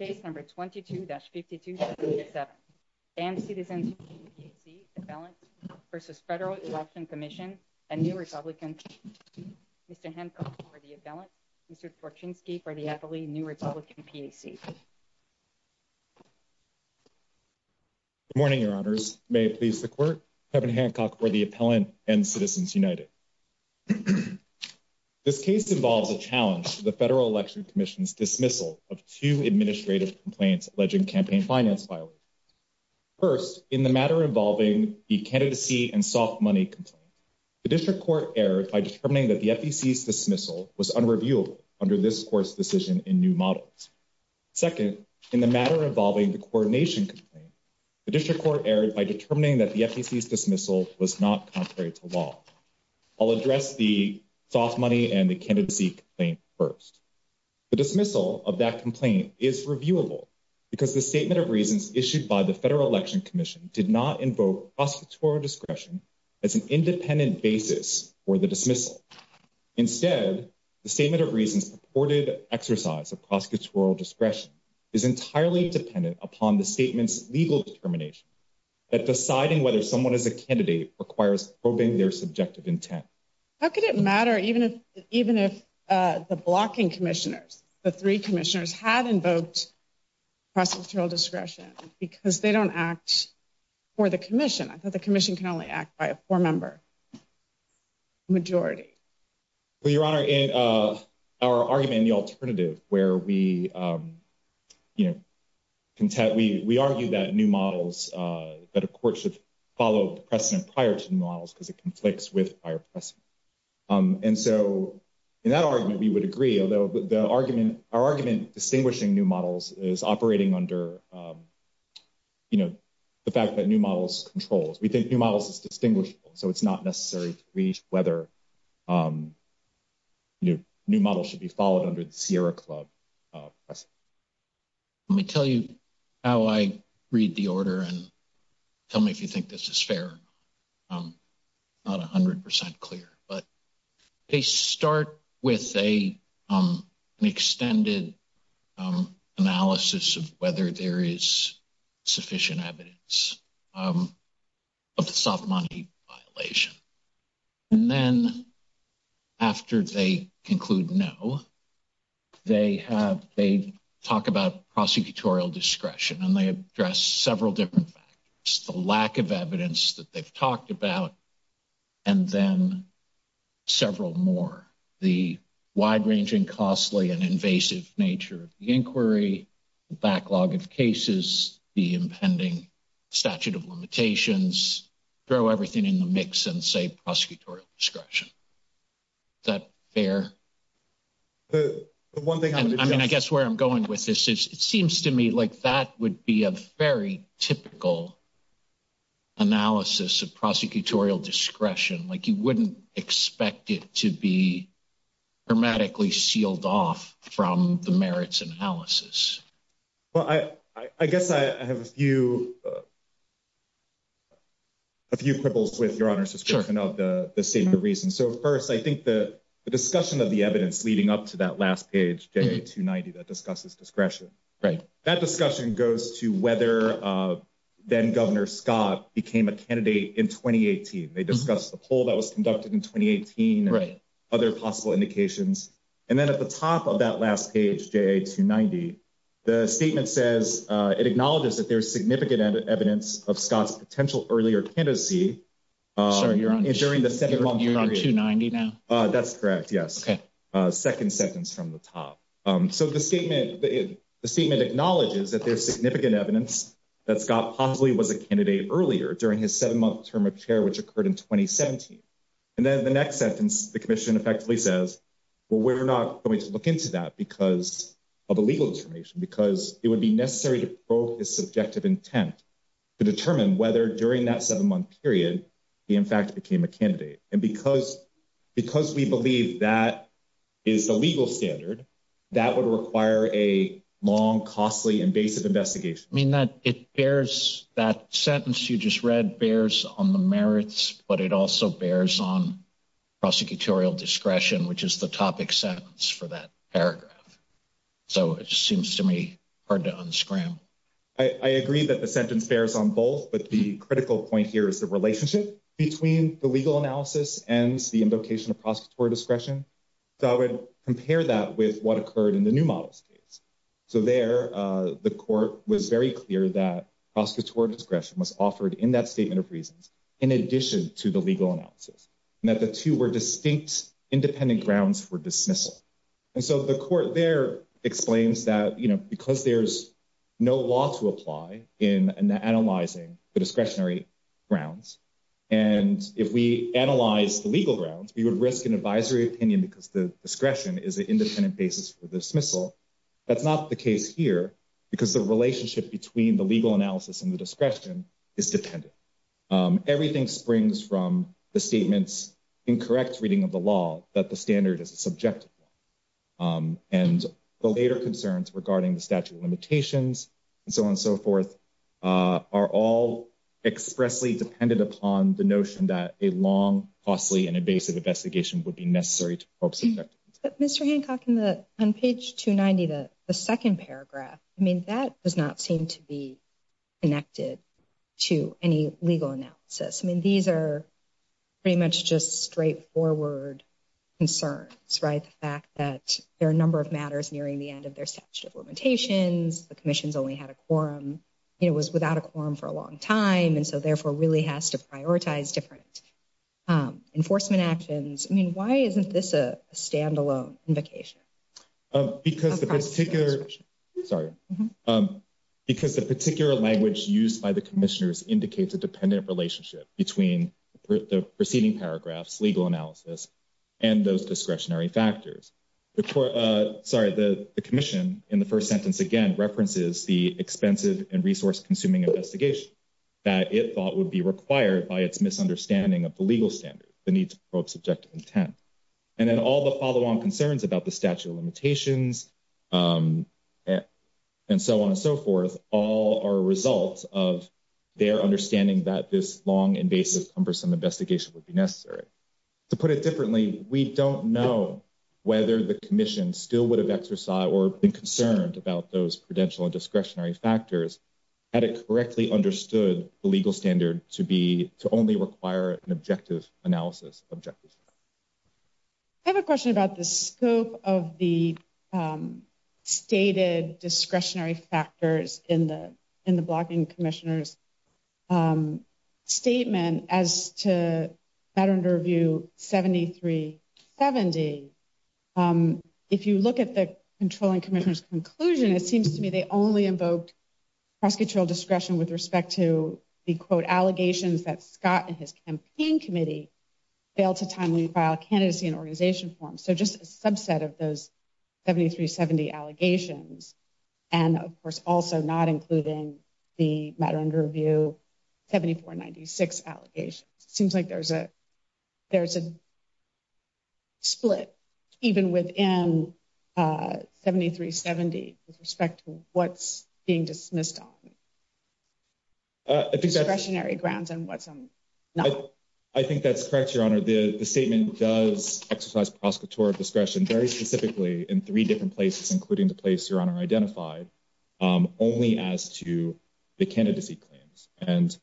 22-52-77, and Citizens United PAC, Appellant v. Federal Election Commission, and New Republican Mr. Hancock for the Appellant, Mr. Torchinsky for the Appellee, New Republican PAC. Good morning, Your Honors. May it please the Court, Kevin Hancock for the Appellant and Citizens United. This case involves a challenge to the Federal Election Commission's dismissal of two administrative complaints alleging campaign finance violations. First, in the matter involving the candidacy and soft money complaint, the District Court erred by determining that the FEC's dismissal was unreviewable under this Court's decision in new models. Second, in the matter involving the coordination complaint, the District Court erred by determining that the FEC's dismissal was not contrary to law. I'll address the soft money and the candidacy complaint first. The dismissal of that complaint is reviewable because the statement of reasons issued by the Federal Election Commission did not invoke prosecutorial discretion as an independent basis for the dismissal. Instead, the statement of reasons purported exercise of prosecutorial discretion is entirely dependent upon the statement's legal determination that deciding whether someone is a candidate requires probing their subjective intent. How could it matter even if the blocking commissioners, the three commissioners, had invoked prosecutorial discretion because they don't act for the commission? I thought the commission can only act by a four-member majority. Well, Your Honor, in our argument in the alternative where we, you know, we argued that new models, that a court should follow the precedent prior to new models because it conflicts with prior precedent. And so in that argument, we would agree, although the argument, our argument distinguishing new models is operating under, you know, the fact that new models controls. We think new models is distinguishable, so it's not necessary to reach whether new models should be followed under the Sierra Club precedent. Let me tell you how I read the order and tell me if you think this is fair. I'm not a hundred percent clear, but they start with an extended analysis of whether there is sufficient evidence of the soft money violation. And then after they conclude no, they have, they talk about prosecutorial discretion and they address several different factors. The lack of evidence that they've talked about and then several more. The wide-ranging costly and invasive nature of the inquiry, the backlog of cases, the impending statute of limitations, throw everything in the mix and say like that would be a very typical analysis of prosecutorial discretion. Like you wouldn't expect it to be dramatically sealed off from the merits analysis. Well, I guess I have a few a few quibbles with your honor's description of the same reason. So first, I think the that discussion goes to whether then-Governor Scott became a candidate in 2018. They discussed the poll that was conducted in 2018 and other possible indications. And then at the top of that last page, JA290, the statement says it acknowledges that there's significant evidence of Scott's potential earlier candidacy during the second long period. You're on 290 now? That's correct, yes. Second sentence from the top. So the statement, the statement acknowledges that there's significant evidence that Scott possibly was a candidate earlier during his seven-month term of chair, which occurred in 2017. And then the next sentence, the commission effectively says, well, we're not going to look into that because of a legal determination, because it would be necessary to probe his subjective intent to determine whether during that seven-month period, he in fact became a candidate. And because we believe that is the legal standard, that would require a long, costly, invasive investigation. I mean, that it bears, that sentence you just read bears on the merits, but it also bears on prosecutorial discretion, which is the topic sentence for that paragraph. So it just seems to me hard to unscramble. I agree that the sentence bears on both, but the critical point here is the relationship between the legal analysis and the invocation of prosecutorial discretion. So I would compare that with what occurred in the new models case. So there, the court was very clear that prosecutorial discretion was offered in that statement of reasons, in addition to the legal analysis, and that the two were distinct, independent grounds for dismissal. And so the court there explains that, you know, because there's no law to apply in analyzing the discretionary grounds, and if we analyze the legal grounds, we would risk an advisory opinion because the discretion is an independent basis for dismissal. That's not the case here because the relationship between the legal analysis and the discretion is dependent. Everything springs from the statement's incorrect reading of the law, that the standard is a subjective one. And the later concerns regarding the statute of limitations, and so on and so forth, are all expressly dependent upon the notion that a long, costly, and invasive investigation would be necessary to probe subjectivity. But Mr. Hancock, on page 290, the second paragraph, I mean, that does not seem to be connected to any legal analysis. I mean, these are pretty much just straightforward concerns, right? The fact that there are a number of matters nearing the end of their statute of limitations, the Commission's only had a quorum, you know, was without a quorum for a long time, and so therefore really has to prioritize different enforcement actions. I mean, why isn't this a standalone invocation? Because the particular language used by the Commissioners indicates a dependent relationship between the preceding paragraphs, legal analysis, and those discretionary factors. Sorry, the Commission, in the first sentence again, references the expensive and resource-consuming investigation that it thought would be required by its misunderstanding of the legal standard, the need to probe subjective intent. And then all the follow-on concerns about the statute of limitations, and so on and so forth, all are a result of their understanding that this long, invasive, cumbersome investigation would be necessary. To put it differently, we don't know whether the Commission still would have exercised or been concerned about those prudential and discretionary factors had it correctly understood the legal standard to only require an objective analysis. I have a question about the scope of the stated discretionary factors in the Blocking Commissioners' statement as to Matter Under Review 7370. If you look at the Commissioners' conclusion, it seems to me they only invoked prosecutorial discretion with respect to the, quote, allegations that Scott and his campaign committee failed to timely file candidacy and organization forms. So just a subset of those 7370 allegations, and of course also not including the Matter Under Review 7496 allegations. It seems like there's a split even within 7370 with respect to what's being dismissed on discretionary grounds and what's not. I think that's correct, Your Honor. The statement does exercise prosecutorial discretion very specifically in three different places, including the place Your Honor identified, only as to the candidacy claims. And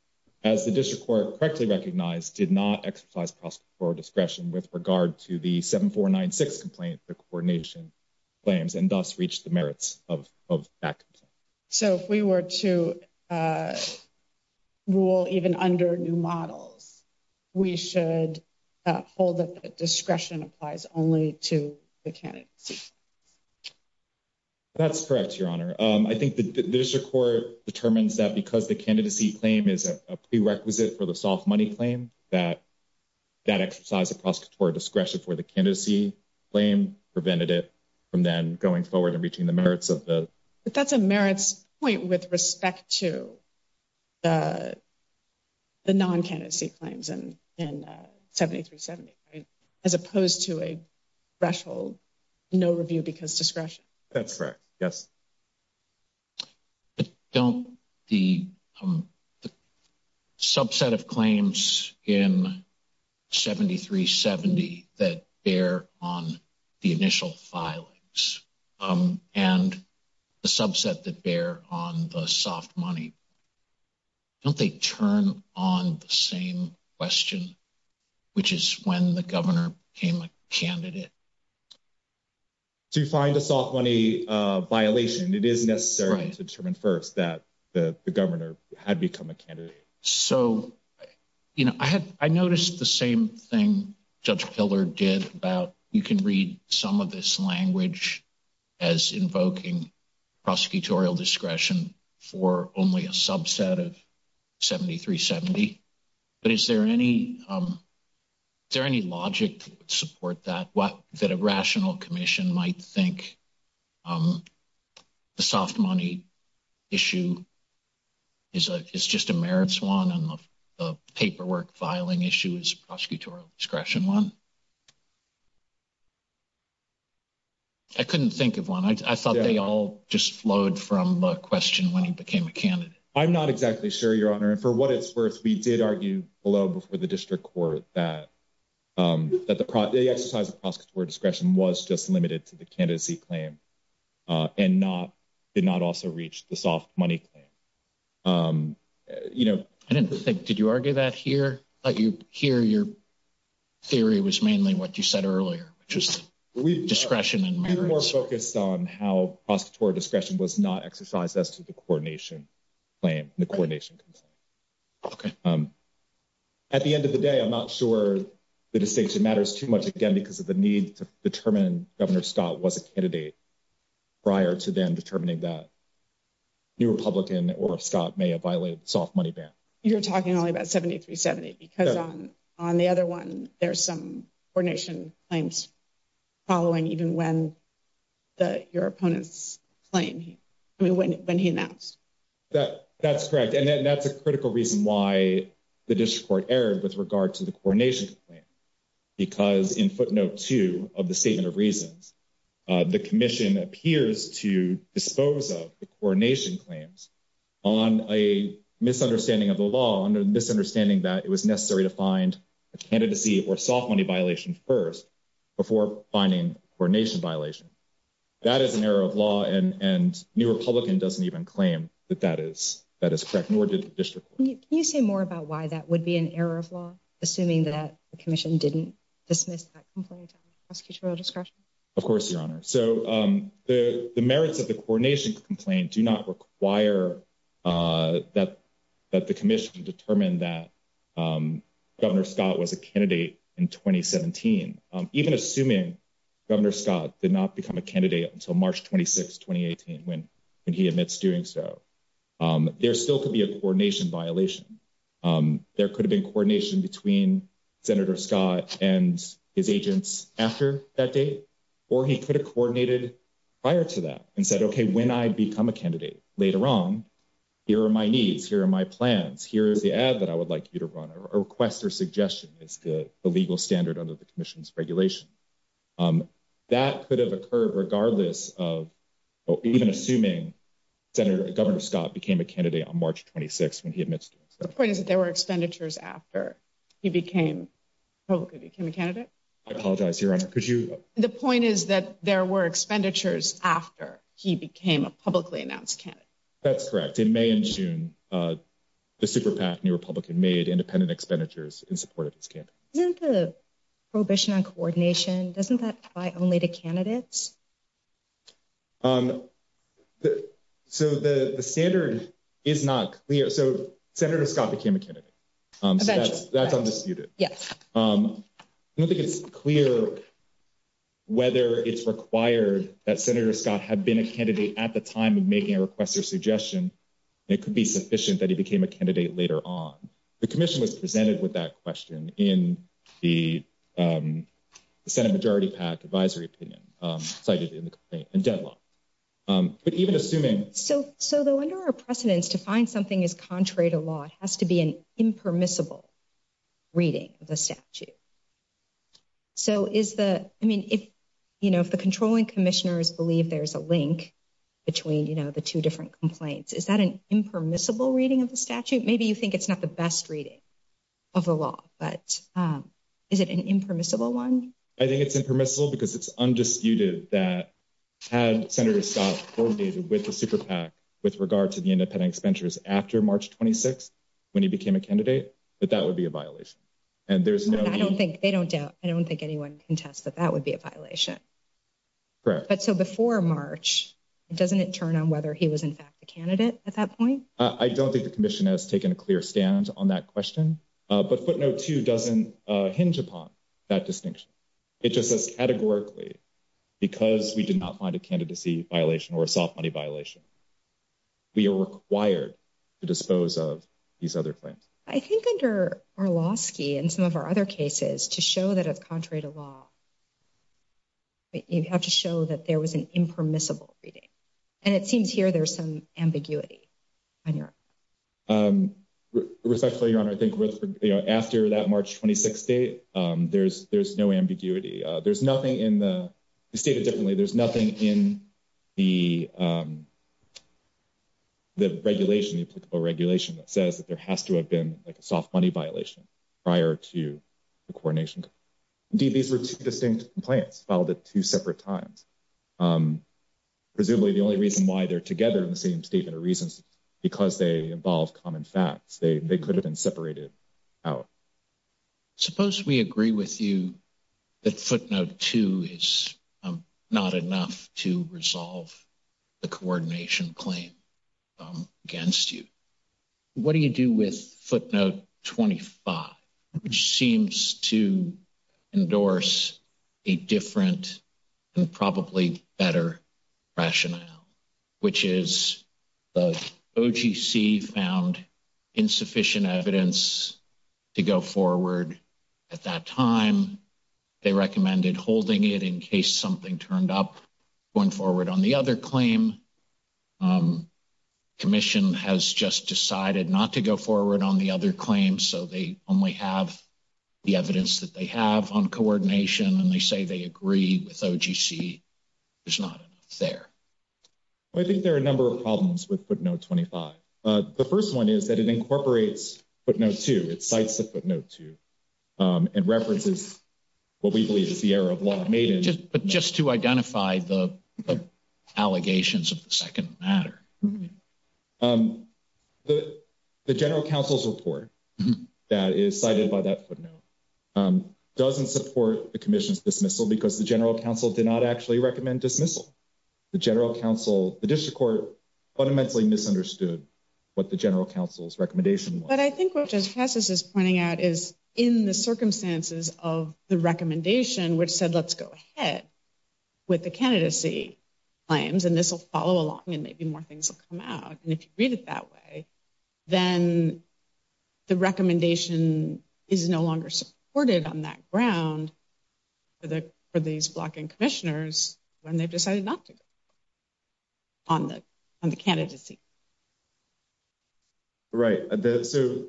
as the District Court correctly recognized, did not exercise prosecutorial discretion with regard to the 7496 complaint, the coordination claims, and thus reach the merits of that complaint. So if we were to rule even under new models, we should hold that the discretion applies only to the candidacy? That's correct, Your Honor. I think the District Court determines that because the candidacy claim is a prerequisite for the soft money claim that that exercise of prosecutorial discretion for the candidacy claim prevented it from then going forward and reaching the merits of the... But that's a merits point with respect to the non-candidacy claims in 7370, right, as opposed to a threshold, no review because discretion. That's correct, yes. But don't the subset of claims in 7370 that bear on the initial filings and the subset that bear on the soft money, don't they turn on the same question, which is when the governor became a It is necessary to determine first that the governor had become a candidate. So, you know, I noticed the same thing Judge Pillard did about you can read some of this language as invoking prosecutorial discretion for only a subset of 7370. But is there any Is there any logic to support that, that a rational commission might think the soft money issue is just a merits one and the paperwork filing issue is a prosecutorial discretion one? I couldn't think of one. I thought they all just flowed from a question when he became a candidate. I'm not exactly sure, Your Honor. And for what it's worth, we did argue below before the district court that the exercise of prosecutorial discretion was just limited to the candidacy claim and did not also reach the soft money claim. I didn't think, did you argue that here? Here your theory was mainly what you said earlier, which was discretion and merits. We were more focused on how prosecutorial discretion was not exercised as to the coordination claim and the coordination concern. Okay. At the end of the day, I'm not sure the distinction matters too much again because of the need to determine Governor Scott was a candidate prior to them determining that New Republican or Scott may have violated the soft money ban. You're talking only about 7370 because on the other one, there's some coordination claims following even when your opponent's claim, I mean, when he announced. That's correct. And that's a critical reason why the district court erred with regard to the coordination because in footnote two of the statement of reasons, the commission appears to dispose of the coordination claims on a misunderstanding of the law, on a misunderstanding that it was finding coordination violation. That is an error of law and New Republican doesn't even claim that that is correct, nor did the district court. Can you say more about why that would be an error of law, assuming that the commission didn't dismiss that complaint on prosecutorial discretion? Of course, your honor. So the merits of the coordination complaint do not require that the commission determined that Governor Scott was a candidate in 2017. Even assuming Governor Scott did not become a candidate until March 26, 2018 when he admits doing so. There still could be a coordination violation. There could have been coordination between Senator Scott and his agents after that date, or he could have coordinated prior to that and said, okay, when I become a candidate later on, here are my needs. Here are my plans. Here's the ad that I would like you to run or request or suggestion is the legal standard under the commission's regulation. That could have occurred regardless of, or even assuming Governor Scott became a candidate on March 26 when he admits doing so. The point is that there were expenditures after he publicly became a candidate? I apologize, your honor. The point is that there were expenditures after he became a publicly announced candidate? That's correct. In May and June, the super PAC, New Republican, made independent expenditures in support of his campaign. Isn't the prohibition on coordination, doesn't that apply only to candidates? So the standard is not clear. So Senator Scott became a candidate. So that's undisputed. I don't think it's clear whether it's required that Senator Scott had been a candidate at the time of making a request or suggestion. It could be sufficient that he became a candidate later on. The commission was presented with that question in the Senate Majority PAC advisory opinion cited in the complaint and deadlocked. But even assuming... So though under our precedence to find something is contrary to law, it has to be an impermissible reading of the statute. So if the controlling commissioners believe there's a link between the two different complaints, is that an impermissible reading of the statute? Maybe you think it's not the best reading of the law, but is it an impermissible one? I think it's impermissible because it's undisputed that had Senator Scott coordinated with the Super PAC with regard to the independent expenditures after March 26th, when he became a candidate, that that would be a violation. And I don't think they don't doubt, I don't think anyone can test that that would be a violation. But so before March, doesn't it turn on whether he was in fact a candidate at that point? I don't think the commission has taken a clear stand on that question. But footnote two doesn't hinge upon that distinction. It just says categorically, because we did not find a candidacy violation or a soft money violation, we are required to dispose of these other claims. I think under Orlowski and some of our other cases to show that it's contrary to law, you have to show that there was an impermissible reading. And it seems here there's some ambiguity. And respectfully, Your Honor, I think after that March 26th date, there's no ambiguity. There's nothing in the stated differently, there's nothing in the regulation, the applicable regulation that says that there has to have been like a soft money violation prior to the coordination. Indeed, these were two distinct complaints filed at two separate times. Presumably the only reason why they're together in the same statement is because they involve common facts. They could have been separated out. Suppose we agree with you that footnote two is not enough to resolve the coordination claim against you. What do you do with footnote 25, which seems to endorse a different and probably better rationale, which is the OGC found insufficient evidence to go forward at that time. They recommended holding it in case something turned up going forward on the other claim. Commission has just decided not to go forward on the other claim. So they only have the evidence that they have on coordination, and they say they agree with OGC. There's not there. I think there are a number of problems with footnote 25. The first one is that it incorporates footnote two. It cites the footnote two and references what we believe is the error of law made. But just to identify the allegations of the second matter. Um, the general counsel's report that is cited by that footnote doesn't support the commission's dismissal because the general counsel did not actually recommend dismissal. The general counsel, the district court, fundamentally misunderstood what the general counsel's recommendation was. But I think what Justice Cassis is pointing out is in the circumstances of the recommendation, which said, let's go ahead with the candidacy claims, and this will follow along and maybe more things will come out. And if you read it that way, then the recommendation is no longer supported on that ground for these blocking commissioners when they've decided not to go on the candidacy. Right. So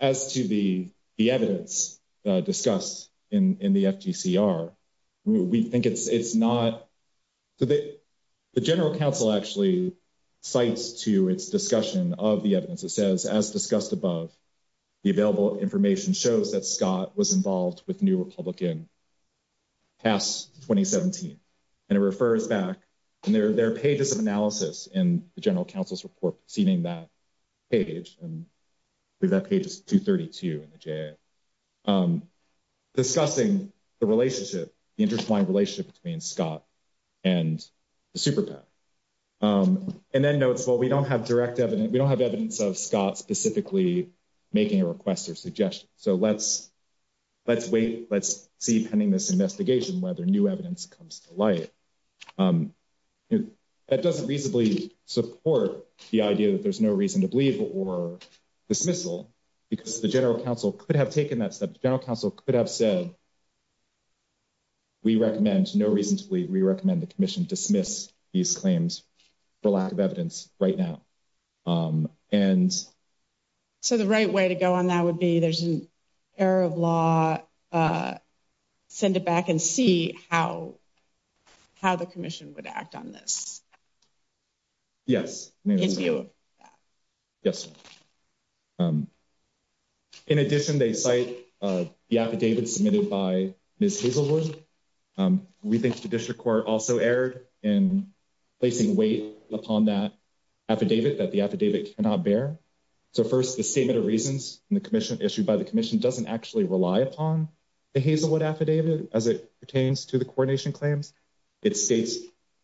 as to the evidence discussed in the FGCR, we think it's not. So the general counsel actually cites to its discussion of the evidence. It says, as discussed above, the available information shows that Scott was involved with New Republican past 2017. And it refers back, and there are pages of analysis in the general counsel's report proceeding that page. And that page is 232 in the J.A. Discussing the relationship, the intertwined relationship between Scott and the super PAC. And then notes, well, we don't have direct evidence. We don't have evidence of Scott specifically making a request or suggestion. So let's wait. Let's see pending this investigation whether new evidence comes to light. That doesn't reasonably support the idea that there's no reason to believe or dismissal because the general counsel could have taken that step. The general counsel could have said, we recommend no reason to believe. We recommend the commission dismiss these claims for lack of evidence right now. And so the right way to go on that would be, there's an error of law. Send it back and see how, how the commission would act on this. Yes. Yes. In addition, they cite the affidavit submitted by Ms. Hazelwood. We think the district court also erred in placing weight upon that affidavit that the affidavit cannot bear. So first the statement of reasons and the commission issued by the commission doesn't actually rely upon the Hazelwood affidavit as it pertains to the coordination claims. It states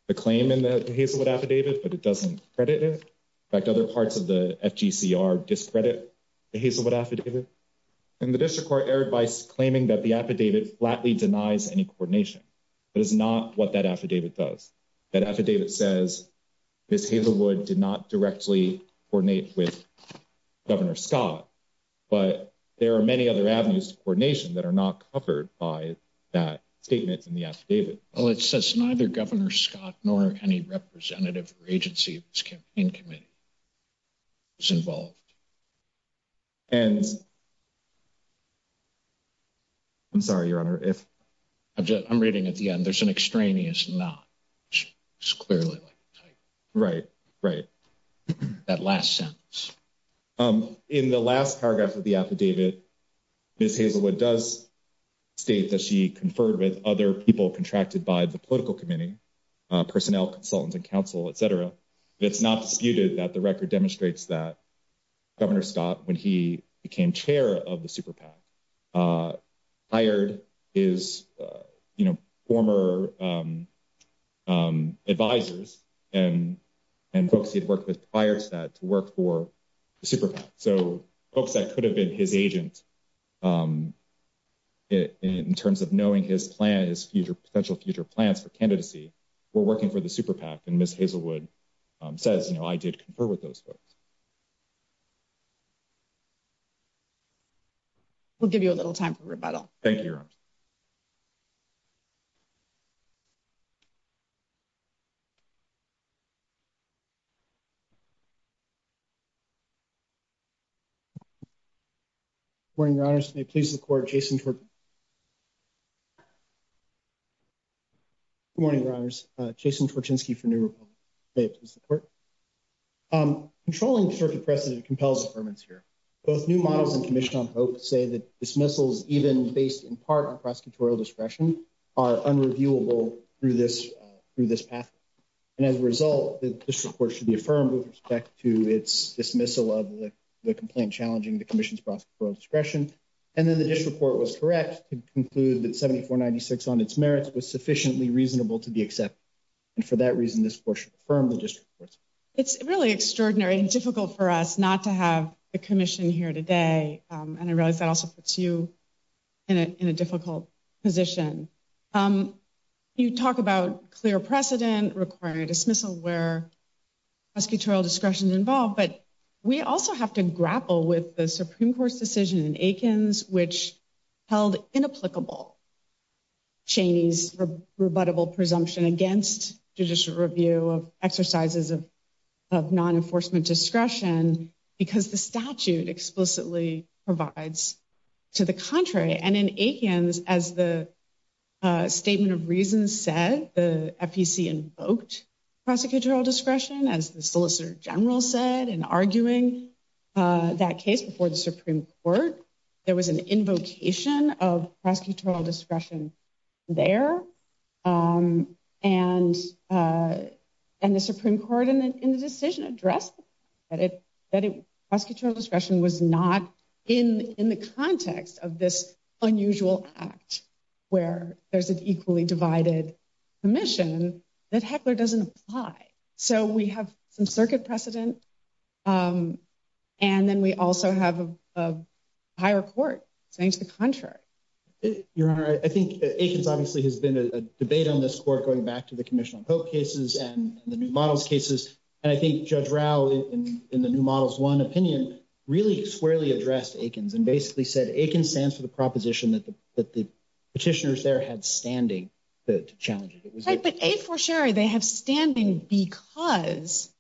the claim in the Hazelwood affidavit, but it doesn't credit it. In fact, other parts of the FGCR discredit the Hazelwood affidavit. And the district court claiming that the affidavit flatly denies any coordination, but it's not what that affidavit does. That affidavit says Ms. Hazelwood did not directly coordinate with Governor Scott, but there are many other avenues to coordination that are not covered by that statement in the affidavit. Well, it says neither Governor Scott nor any representative or agency in this campaign committee was involved. And I'm sorry, Your Honor. I'm reading at the end. There's an extraneous not. It's clearly like that last sentence. In the last paragraph of the affidavit, Ms. Hazelwood does state that she conferred with other people contracted by the political committee, personnel, consultants, and counsel, et cetera. It's not disputed that the record demonstrates that Governor Scott, when he became chair of the Super PAC, hired his, you know, former advisors and folks he had worked with prior to that to work for the Super PAC. So folks that could have been his agent in terms of knowing his plan, his future potential future plans for working for the Super PAC. And Ms. Hazelwood says, you know, I did confer with those folks. We'll give you a little time for rebuttal. Thank you, Your Honor. Good morning, Your Honors. May it please the Court, Jason Twerk. Good morning, Your Honors. Jason Twerkinski for New Republic. May it please the Court. Controlling circuit precedent compels affirmance here. Both new models and Commission on Hope say that dismissals, even based in part on prosecutorial discretion, are unreviewable through this path. And as a result, the district court should be affirmed with respect to its dismissal of the complaint challenging the commission's prosecutorial discretion. And then the district court was correct to conclude that 7496 on its merits was sufficiently reasonable to be accepted. And for that reason, this Court should affirm the district courts. It's really extraordinary and difficult for us not to have a commission here today. And I realize that also puts you in a difficult position. You talk about clear precedent requiring a dismissal where prosecutorial discretion is involved, but we also have to grapple with the Supreme Court's decision in Aikens which held inapplicable Cheney's rebuttable presumption against judicial review of exercises of non-enforcement discretion because the statute explicitly provides to the contrary. And in Aikens, as the Statement of Reasons said, the FEC invoked prosecutorial discretion as the Solicitor General said in arguing that case before the Supreme Court. There was an invocation of prosecutorial discretion there. And the Supreme Court in the decision addressed that prosecutorial discretion was not in the context of this unusual act where there's an equally divided commission that Heckler doesn't apply. So we have some circuit precedent and then we also have a higher court saying to the contrary. Your Honor, I think Aikens obviously has been a debate on this Court going back to the Commission on Pope cases and the New Models cases. And I think Judge Rau in the New Models 1 opinion really squarely addressed Aikens and basically said Aikens stands for the proposition that the petitioners there had standing to challenge it. Right, but a for sure they have standing because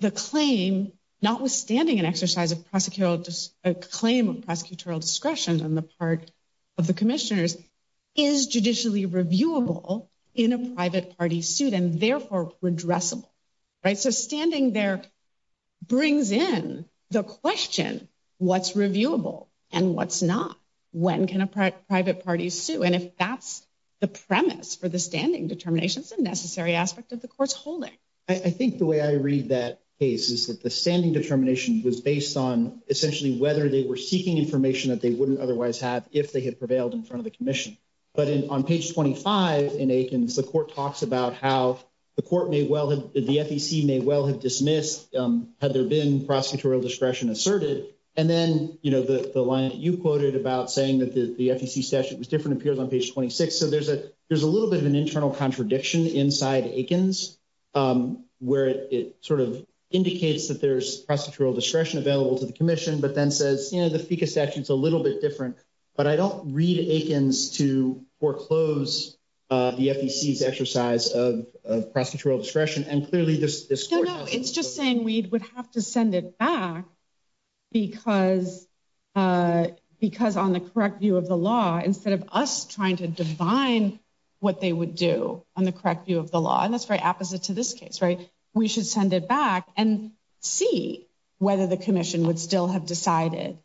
the claim notwithstanding an exercise of prosecutorial claim of prosecutorial discretion on the part of the commissioners is judicially reviewable in a private party suit and therefore redressable. Right, so standing there brings in the question what's reviewable and what's not? When can a private party sue? And if that's the premise for the standing determination, it's a necessary aspect of the court's holding. I think the way I read that case is that the standing determination was based on essentially whether they were seeking information that they wouldn't otherwise have if they had prevailed in front of the commission. But on page 25 in Aikens, the court talks about how the court may well have, the FEC may well have dismissed had there been prosecutorial discretion asserted. And then the line that you quoted about saying that the FEC statute was different appears on page 26. So there's a little bit of an internal contradiction inside Aikens where it sort of indicates that there's prosecutorial discretion available to the commission, but then says the FECA statute's a little bit different. But I don't read Aikens to foreclose the FEC's exercise of discretion. No, no. It's just saying we would have to send it back because on the correct view of the law, instead of us trying to divine what they would do on the correct view of the law, and that's very opposite to this case, right? We should send it back and see whether the commission would still have decided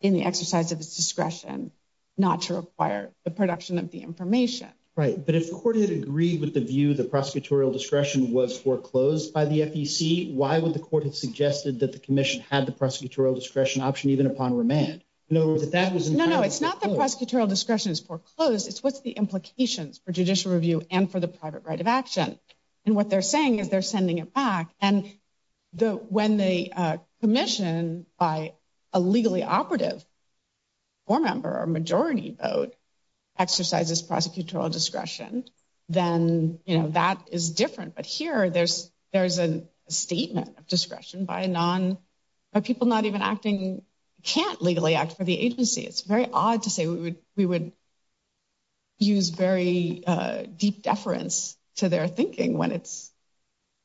in the exercise of its discretion not to require the production of the information. Right. But if the court had agreed with the view the prosecutorial discretion was foreclosed by the FEC, why would the court have suggested that the commission had the prosecutorial discretion option even upon remand? No, no. It's not the prosecutorial discretion is foreclosed. It's what's the implications for judicial review and for the private right of action. And what they're saying is they're sending it back. And when the commission by a legally operative or member or majority vote exercises prosecutorial discretion, then, you know, that is different. But here there's a statement of discretion by a non, by people not even acting, can't legally act for the agency. It's very odd to say we would use very deep deference to their thinking when it's...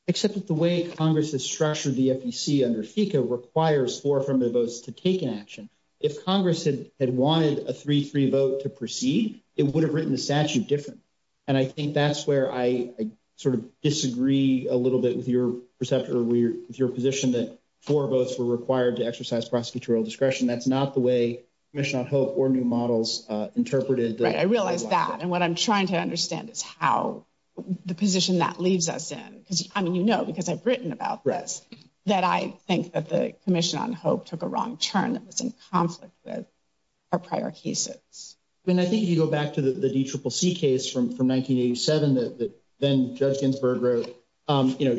Except that the way Congress has structured the FEC under FECA requires four affirmative votes to take an action. If Congress had wanted a 3-3 vote to proceed, it would have written the statute different. And I think that's where I sort of disagree a little bit with your perception or with your position that four votes were required to exercise prosecutorial discretion. That's not the way Commission on Hope or new models interpreted. Right. I realize that. And what I'm trying to understand is how the position that leaves us in, because, I mean, you know, because I've written about this, that I think that the Commission on Hope took a wrong turn. It was in conflict with our prior cases. And I think if you go back to the DCCC case from 1987 that then Judge Ginsburg wrote, you know,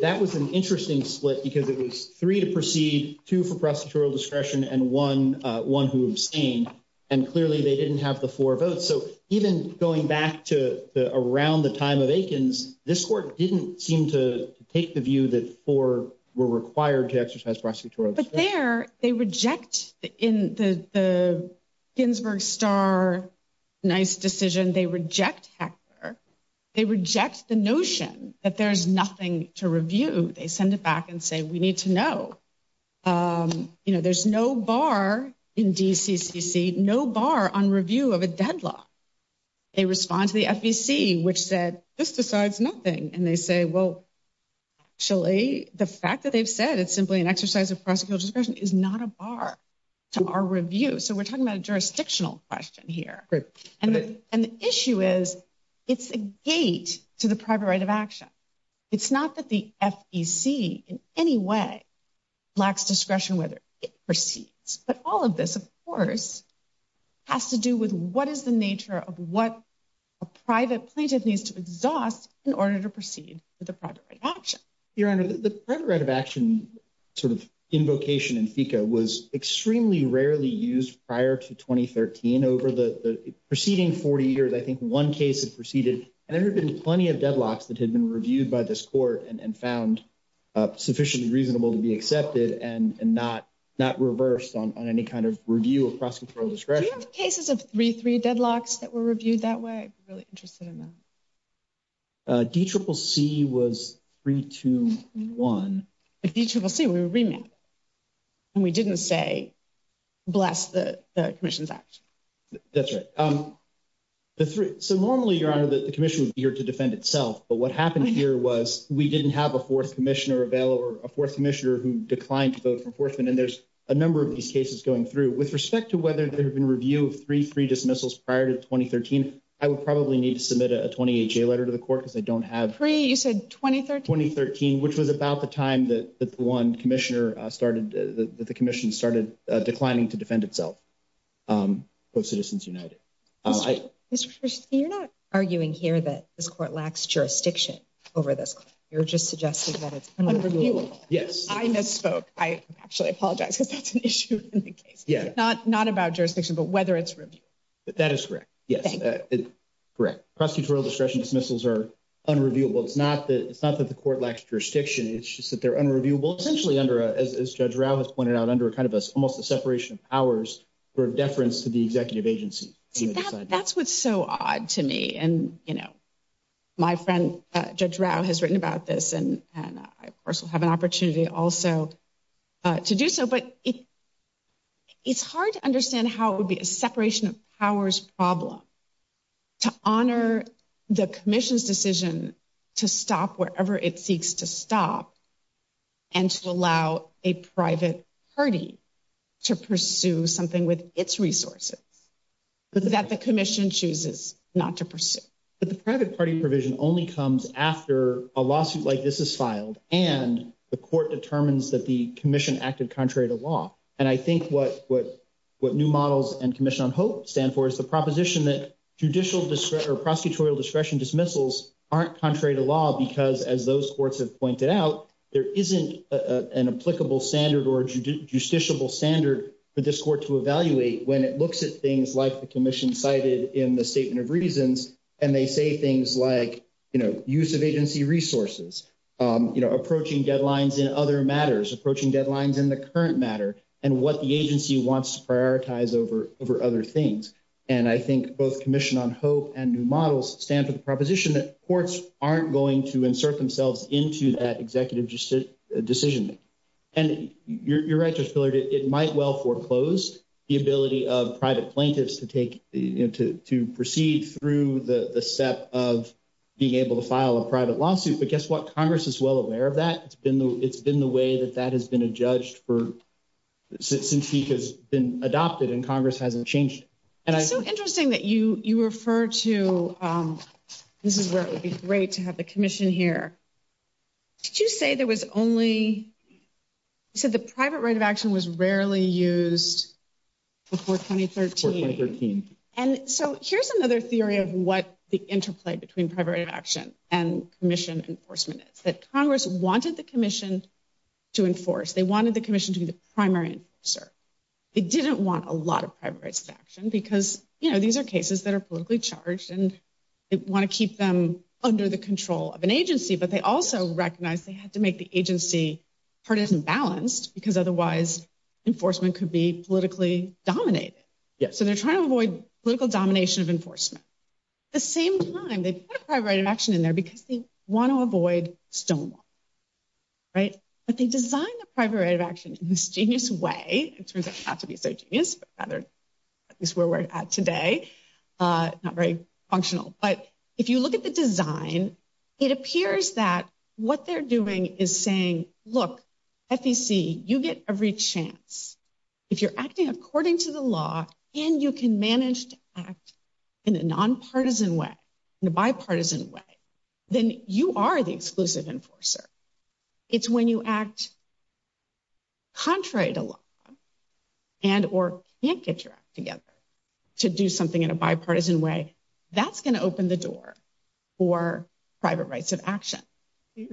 that was an interesting split because it was three to proceed, two for prosecutorial discretion, and one who abstained. And clearly they didn't have the four votes. So even going back to around the time of Aikens, this court didn't seem to take the view that four were required to exercise prosecutorial discretion. But there, they reject the Ginsburg Starr-Nice decision. They reject Hector. They reject the notion that there's nothing to review. They send it back and say, we need to know. You know, there's no bar in DCCC, no bar on review of a deadlock. They respond to the FEC, which said, this decides nothing. And they say, well, actually, the fact that they've said it's simply an exercise of prosecutorial discretion is not a bar to our review. So we're talking about a jurisdictional question here. And the issue is, it's a gate to the private right of action. It's not that the FEC in any way lacks discretion whether it proceeds. But all of this, of course, has to do with what is the nature of what a private right of action? Your Honor, the private right of action sort of invocation in FECA was extremely rarely used prior to 2013. Over the preceding 40 years, I think one case had proceeded, and there had been plenty of deadlocks that had been reviewed by this court and found sufficiently reasonable to be accepted and not reversed on any kind of review of prosecutorial discretion. Do you have cases of 3-3 deadlocks that were reviewed that way? I'm really interested in that. D-triple-C was 3-2-1. D-triple-C, we were remanded. And we didn't say, bless the commission's act. That's right. So normally, Your Honor, the commission would be here to defend itself. But what happened here was we didn't have a fourth commissioner available or a fourth commissioner who declined to vote for enforcement. And there's a number of these cases going through. With respect to whether there have been review of 3-3 dismissals prior to 2013, I would probably need to submit a 28-J letter to the court because I don't have... 3, you said 2013? 2013, which was about the time that the one commissioner started, that the commission started declining to defend itself, both Citizens United. You're not arguing here that this court lacks jurisdiction over this. You're just suggesting that it's unreviewable. Yes. I misspoke. I actually apologize because that's an issue in the case. Yeah. Not about jurisdiction, but whether it's reviewable. That is correct. Yes. Correct. Prosecutorial discretion dismissals are unreviewable. It's not that the court lacks jurisdiction. It's just that they're unreviewable, essentially under, as Judge Rau has pointed out, under kind of almost a separation of powers for deference to the executive agency. That's what's so odd to me. And my friend, Judge Rau, has written about this. And I also have an opportunity also to do so. But it's hard to understand how it would be a separation of powers problem to honor the commission's decision to stop wherever it seeks to stop and to allow a private party to pursue something with its resources that the commission chooses not to pursue. But the private party provision only comes after a lawsuit like this is filed and the court determines that the commission acted contrary to law. And I think what new models and Commission on Hope stand for is the proposition that judicial discretion or prosecutorial discretion dismissals aren't contrary to law because, as those courts have pointed out, there isn't an applicable standard or justiciable standard for this court to evaluate when it looks at things like the commission cited in the Statement of Reasons and they say things like, use of agency resources, approaching deadlines in other matters, approaching deadlines in the current matter, and what the agency wants to prioritize over other things. And I think both Commission on Hope and new models stand for the proposition that courts aren't going to insert themselves into that executive decision. And you're right, Judge Pillard, it might well foreclose the ability of private plaintiffs to proceed through the step of being able to file a private lawsuit. But guess what? Congress is well aware of that. It's been the way that that has been adjudged since it has been adopted and Congress hasn't changed. It's so interesting that you refer to, this is where it would be great to have the commission here. Did you say there was only, you said the private right of action was rarely used before 2013. And so here's another theory of what the interplay between private right of action and commission enforcement is, that Congress wanted the commission to enforce. They wanted the commission to be the primary enforcer. They didn't want a lot of private rights of action because, you know, these are cases that are politically charged and they want to keep them under the control of an agency. But they also recognize they had to make the agency partisan balanced because otherwise enforcement could be politically dominated. So they're trying to avoid political domination of enforcement. At the same time, they put a private right of action in there because they want to avoid stonewall, right? But they designed the private right of action in this genius way. It turns out not to be so genius, but rather at least where we're at today, not very functional. But if you look at the design, it appears that what they're doing is saying, look, FEC, you get every chance. If you're acting according to the law and you can manage to act in a nonpartisan way, in a bipartisan way, then you are the exclusive enforcer. It's when you act contrary to law and or can't get your act together to do something in a bipartisan way, that's going to open the door for private rights of action. I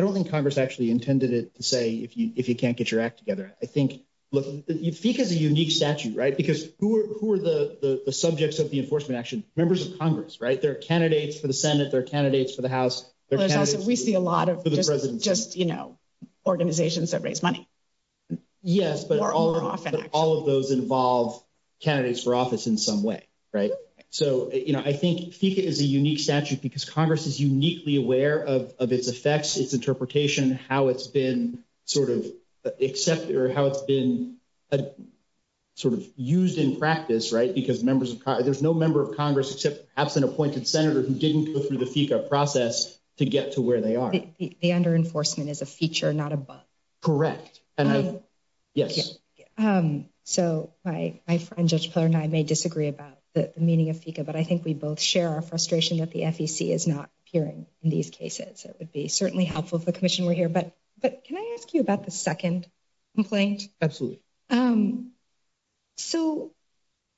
don't think Congress actually intended it to say if you can't get your act together. I think, look, FEC has a unique statute, right? Because who are the subjects of the enforcement action? Members of Congress, right? There are candidates for the Senate, there are candidates for the House. We see a lot of just, you know, organizations that raise money. Yes, but all of those involve candidates for office in some way, right? So, you know, I think FEC is a unique statute because Congress is uniquely aware of its effects, its interpretation, how it's been sort of accepted or how it's been sort of used in practice, right? Because there's no member of Congress except perhaps an appointed senator who didn't go through the FECA process to get to where they are. The under enforcement is a feature, not above. Correct. Yes. So my friend, Judge Peller, and I may disagree about the meaning of FECA, but I think we both share our frustration that the FEC is not appearing in these cases. It would be certainly helpful if the commission were here, but can I ask you about the second complaint? Absolutely.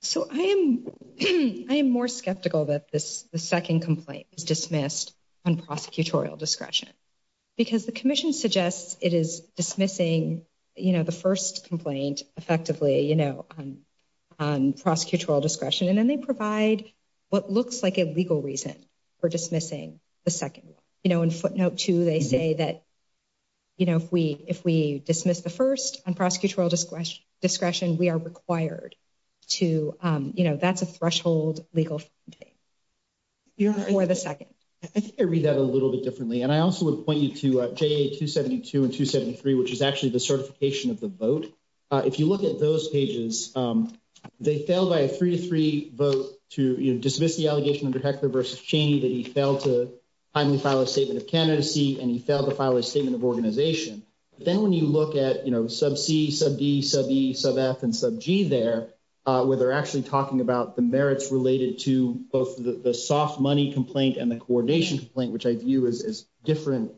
So I am more skeptical that this second complaint is dismissed on prosecutorial discretion because the commission suggests it is dismissing, you know, the first complaint effectively, you know, on prosecutorial discretion. And then they provide what looks like a legal reason for dismissing the second one. You know, in footnote two, they say that, you know, if we dismiss the first on prosecutorial discretion, we are required to, you know, that's a threshold legal for the second. I think I read that a little bit differently. And I also would point you to JA 272 and 273, which is actually the certification of the vote. If you look at those pages, they failed by a three to three vote to dismiss the allegation under Heckler versus Cheney that he failed to finally file a statement of candidacy and he failed to file a statement of organization. But then when you look at, you know, sub C, sub D, sub E, sub F, and sub G there, where they're actually talking about the merits related to both the soft money complaint and the coordination complaint, which I view as different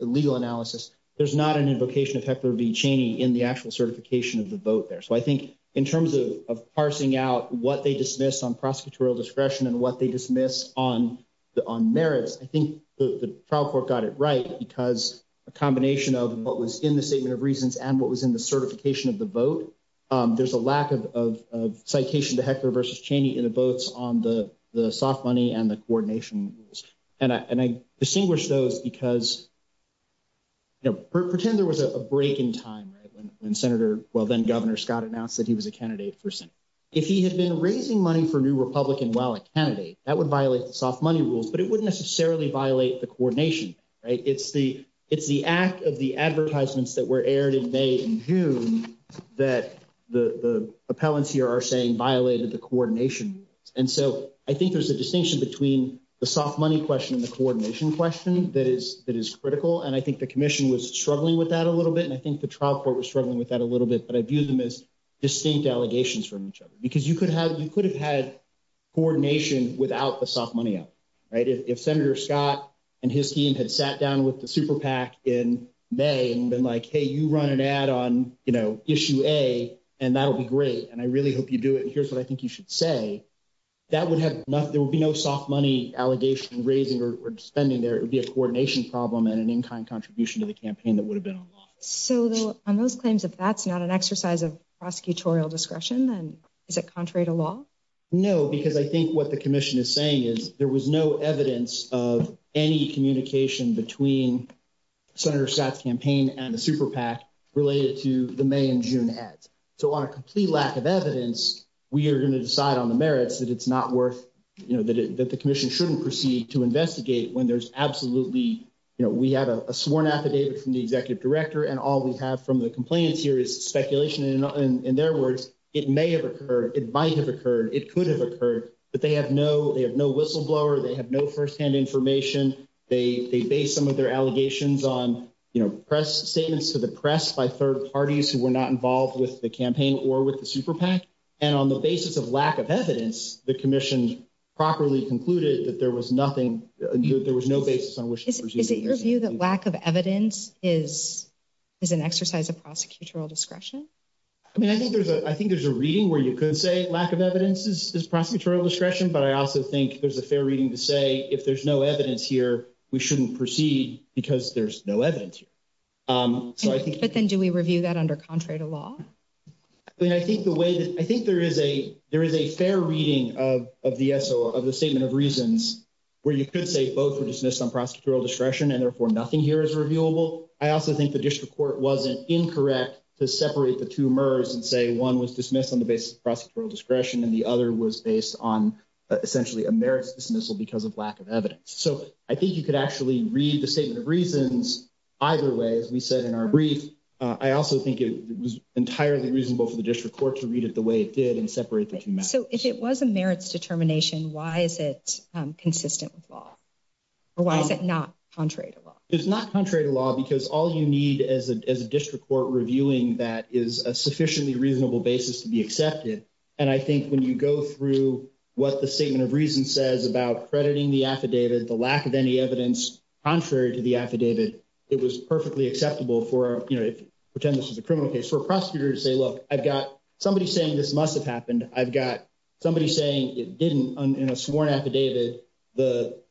legal analysis, there's not an invocation of Heckler v. Cheney in the actual certification of the vote there. So I think in terms of parsing out what they dismiss on prosecutorial discretion and what they dismiss on merits, I think the trial court got it right because a combination of what was in the statement of reasons and what was in the certification of the vote, there's a lack of citation to Heckler versus Cheney in the votes on the soft money and the coordination rules. And I distinguish those because, you know, pretend there was a break in time, right, when Senator, well, then Governor Scott announced that he was a candidate for Senate. If he had been raising money for a new Republican wallet candidate, that would violate the soft money rules, but it wouldn't necessarily violate the coordination, right? It's the act of the advertisements that were aired in May and June that the appellants here are saying violated the coordination. And so I think there's a distinction between the soft money question and the coordination question that is critical. And I think the commission was struggling with that a little bit. And I think the trial court was struggling with that a little bit, but I view them as distinct allegations from each other because you could have, you could have had coordination without the soft money out, right? If Senator Scott and his team had sat down with the super PAC in May and been like, hey, you run an ad on, you know, issue A and that'll be great. And I really hope you do it. And here's what I think you should say. That would have nothing, there would be no soft money allegation raising or spending there. It would be a coordination problem and an in-kind contribution to the campaign that would have been on law. So on those claims, if that's not an exercise of prosecutorial discretion, then is it contrary to law? No, because I think what the commission is saying is there was no evidence of any communication between Senator Scott's campaign and the super PAC related to the May and June ads. So on a complete lack of evidence, we are going to decide on the merits that it's not worth, you know, that the commission shouldn't proceed to investigate when there's absolutely, you know, we have a sworn affidavit from the executive director and all we have from the complainants here is speculation. And in their words, it may have occurred, it might have occurred, it could have occurred, but they have no, they have no whistleblower, they have no firsthand information. They base some of their allegations on, you know, press statements to the press by third parties who were not involved with the campaign or with the super PAC. And on the basis of lack of evidence, the commission properly concluded that there was nothing, there was no basis on which to proceed. Is it your view that lack of evidence is an exercise of prosecutorial discretion? I mean, I think there's a reading where you could say lack of evidence is prosecutorial discretion, but I also think there's a fair reading to say if there's no evidence here, we shouldn't proceed because there's no evidence here. But then do we review that under Contrera law? I mean, I think the way that, I think there is a, there is a fair reading of the SOA, of the statement of reasons where you could say both were dismissed on prosecutorial discretion and therefore nothing here is reviewable. I also think the district court wasn't incorrect to separate the two murrs and say one was dismissed on the basis of prosecutorial discretion and the actually read the statement of reasons either way, as we said in our brief, I also think it was entirely reasonable for the district court to read it the way it did and separate the two. So if it was a merits determination, why is it consistent with law? Or why is it not Contrera law? It's not Contrera law because all you need as a district court reviewing that is a sufficiently reasonable basis to be accepted. And I think when you go through what the statement of reason says about crediting the affidavit, the lack of any evidence contrary to the affidavit, it was perfectly acceptable for, you know, pretend this is a criminal case for a prosecutor to say, look, I've got somebody saying this must have happened. I've got somebody saying it didn't in a sworn affidavit.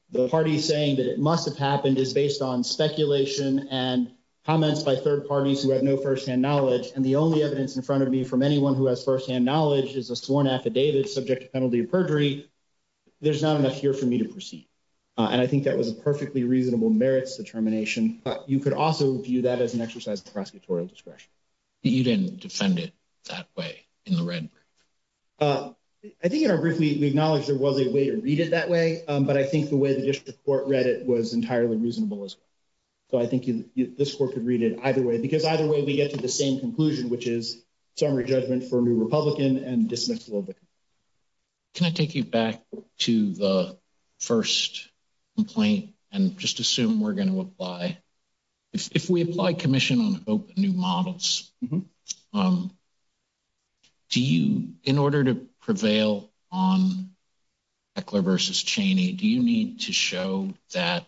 The party saying that it must have happened is based on speculation and comments by third parties who have no firsthand knowledge. And the only evidence in front of me from anyone who has firsthand knowledge is a sworn affidavit subject to penalty of perjury. There's not enough here for me to proceed. And I think that was a perfectly reasonable merits determination. But you could also view that as an exercise of prosecutorial discretion. You didn't defend it that way in the red? I think in our brief, we acknowledge there was a way to read it that way. But I think the way the district court read it was entirely reasonable as well. So I think this court could read it either way, because either way, we get to the same conclusion, which is summary judgment for new Republican and dismissal. Can I take you back to the first complaint and just assume we're going to apply if we apply commission on new models? Do you in order to prevail on Heckler versus Cheney, do you need to show that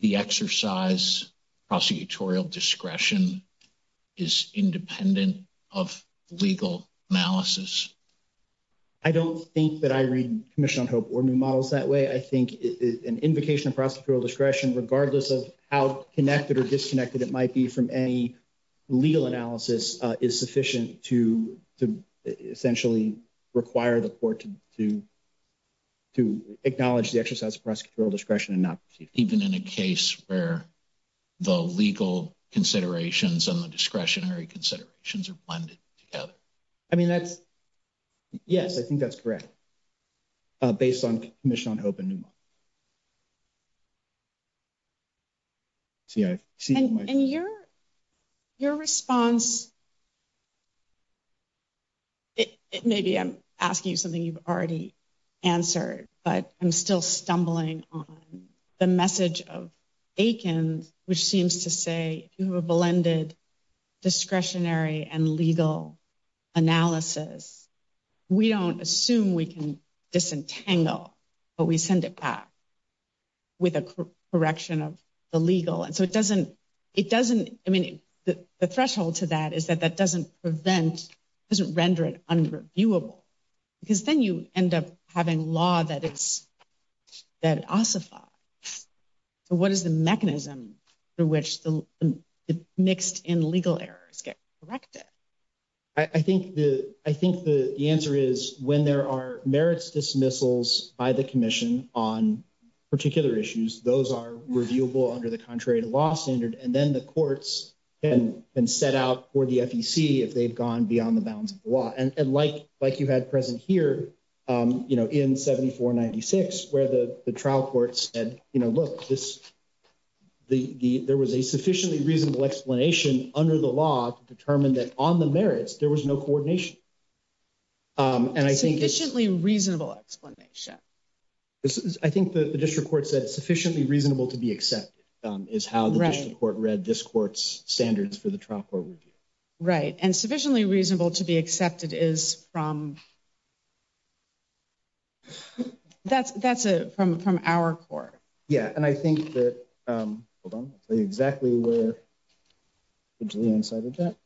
the exercise prosecutorial discretion is independent of legal analysis? I don't think that I read commission on hope or new models that way. I think an invocation of prosecutorial discretion, regardless of how connected or disconnected it might be from any legal analysis is sufficient to essentially require the court to acknowledge the exercise of prosecutorial discretion and not even in a case where the legal considerations and the discretionary considerations are blended together. I mean, that's, yes, I think that's correct. Based on commission on hope and new models. And your response, maybe I'm asking you something you've already answered, but I'm still stumbling on the message of Aikens, which seems to say, if you have a blended discretionary and legal analysis, we don't assume we can disentangle, but we send it back with a correction of the legal. And so it doesn't, I mean, the threshold to that is that that doesn't prevent, doesn't render it reviewable because then you end up having law that it's that ossified. So what is the mechanism through which the mixed in legal errors get corrected? I think the answer is when there are merits dismissals by the commission on particular issues, those are reviewable under the contrary to law standard. And then the courts and set out for the FEC, if they've gone beyond the bounds of the law and like, like you had present here, you know, in 7496, where the trial court said, you know, look, this, the, the, there was a sufficiently reasonable explanation under the law to determine that on the merits, there was no coordination. And I think it's reasonably reasonable explanation. This is, I think the district court said it's sufficiently reasonable to be accepted is how the district court read this court's standards for the trial court review. Right. And sufficiently reasonable to be accepted is from, that's, that's a, from, from our court. Yeah. And I think that, hold on, exactly where the Julian side of that.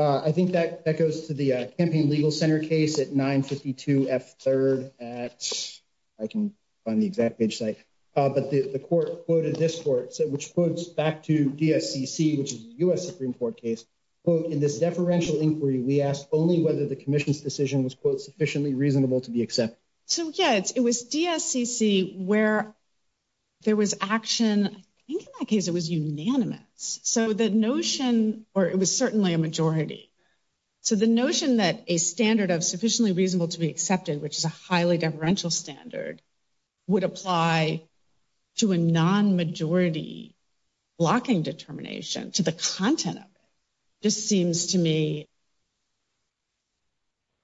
I think that that goes to the campaign legal center case at 952 F third at I can find the exact page site, but the court quoted this court said, which puts back to DSCC, which is the U.S. Supreme court case quote, in this deferential inquiry, we asked only whether the commission's decision was quote sufficiently reasonable to be accepted. So yeah, it's, it was DSCC where there was action. I think in that case, it was unanimous. So the notion, or it was certainly a majority. So the notion that a standard of sufficiently reasonable to be accepted, which is a highly deferential standard would apply to a non-majority blocking determination to the content of it. This seems to me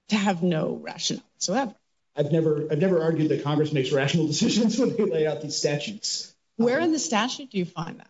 to have no rational. So I've never, I've never argued that Congress makes rational decisions when they lay out these statutes. Where in the statute, do you find that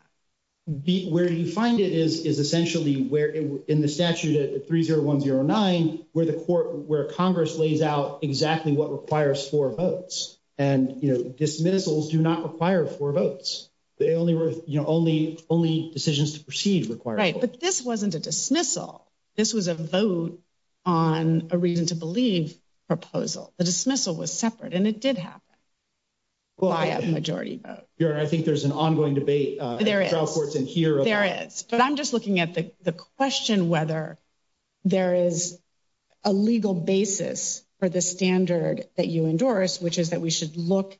beat where you find it is, is essentially where in the statute at 30109, where the court, where Congress lays out exactly what requires four votes and, you know, dismissals do not require four votes. They only were, you know, only, only decisions to proceed require. Right. But this wasn't a dismissal. This was a vote on a reason to believe proposal. The dismissal was separate and it did happen. Well, I have a majority vote. I think there's an ongoing debate. There is, but I'm just looking at the question, whether there is a legal basis for the standard that you endorse, which is that we should look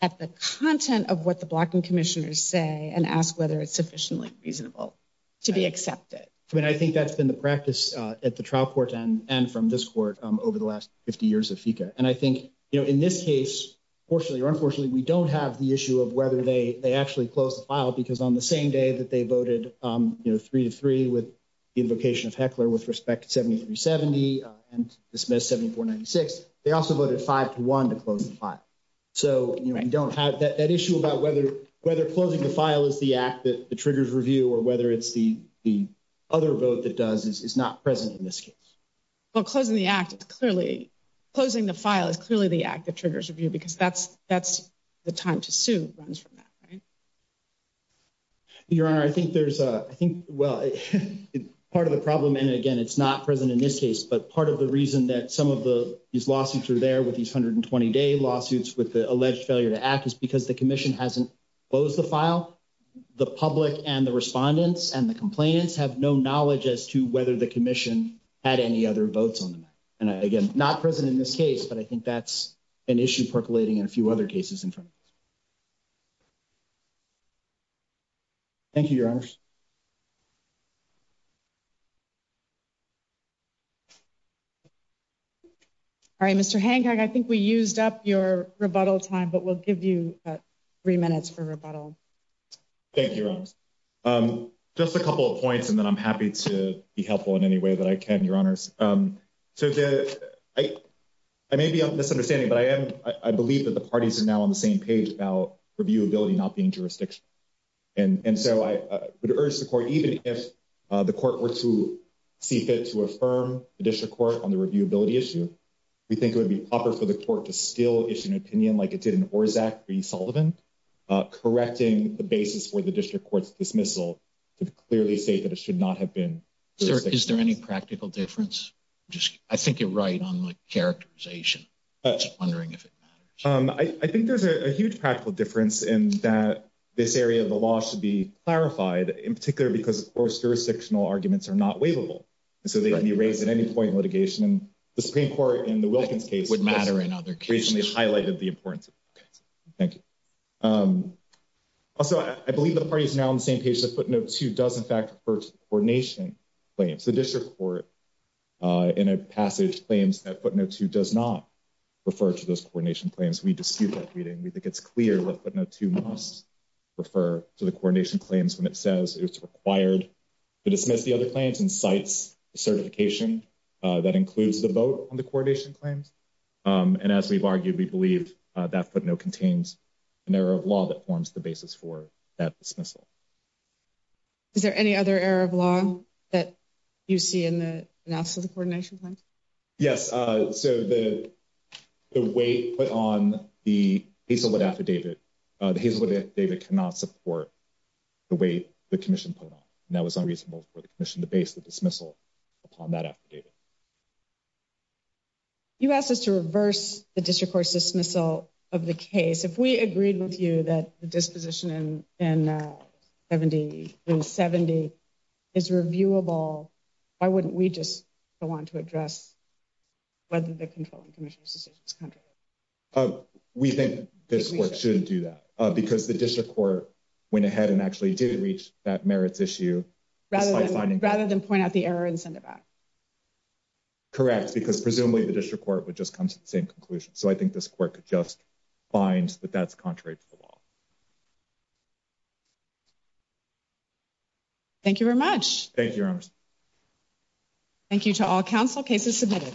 at the content of what the blocking commissioners say and ask whether it's sufficiently reasonable to be accepted. I mean, I think that's been the practice at the trial court and from this court over the last 50 years of FICA. And I think, you know, in this case, fortunately or unfortunately, we don't have the issue of whether they actually closed the file because on the same day that they and dismissed 7496, they also voted five to one to close the file. So you don't have that issue about whether, whether closing the file is the act that the triggers review or whether it's the, the other vote that does is not present in this case. Well, closing the act, it's clearly closing the file is clearly the act that triggers review because that's, that's the time to sue runs from that. Right. Your honor, I think there's a, I think, well, part of the problem. And again, it's not present in this case, but part of the reason that some of the, these lawsuits are there with these 120 day lawsuits with the alleged failure to act is because the commission hasn't closed the file. The public and the respondents and the complainants have no knowledge as to whether the commission had any other votes on them. And again, not present in this case, but I think that's an issue percolating in a few other cases in front. Thank you, your honors. All right. Mr. Hancock, I think we used up your rebuttal time, but we'll give you three minutes for rebuttal. Thank you. Just a couple of points. And then I'm happy to be helpful in any way that I can, your honors. So I, I may be on this understanding, but I am, I believe that the parties are now on the same page about reviewability, not being jurisdiction. And so I would urge the court, even if the court were to see fit to affirm the district court on the reviewability issue, we think it would be proper for the court to still issue an opinion like it did in Orzac v. Sullivan, correcting the basis for the district court's dismissal to clearly state that it should not have been. Is there any practical difference? I think you're right on the characterization. I'm just wondering if it matters. I think there's a huge practical difference in that this area of the law should be clarified in particular because of course, jurisdictional arguments are not waivable. And so they can be raised at any point in litigation. And the Supreme Court in the Wilkins case would matter in other cases highlighted the importance. Thank you. Also, I believe the party is now on the same page that footnote two does in fact, first coordination claims the district court in a passage claims that footnote two does not refer to those coordination claims. We dispute that reading. We think it's clear that footnote two must refer to the coordination claims when it says it's required to dismiss the other claims and cites certification that includes the vote on the coordination claims. And as we've argued, we believe that footnote contains an error of law that forms the basis for that dismissal. Is there any other error of law that you see in the analysis of the coordination claims? Yes. So the way put on the affidavit, the affidavit cannot support the way the commission put on that was unreasonable for the commission to base the dismissal upon that affidavit. You asked us to reverse the district court dismissal of the case. If we agreed with you that the disposition in 70 is reviewable, why wouldn't we just go on to address whether the controlling commission's decision is contrary? We think this court shouldn't do that because the district court went ahead and actually did reach that merits issue. Rather than point out the error and send it back. Correct, because presumably the district court would just come to the same conclusion. So I think this court could just find that that's contrary to the law. Thank you very much. Thank you, Your Honor. Thank you to all counsel. Case is submitted.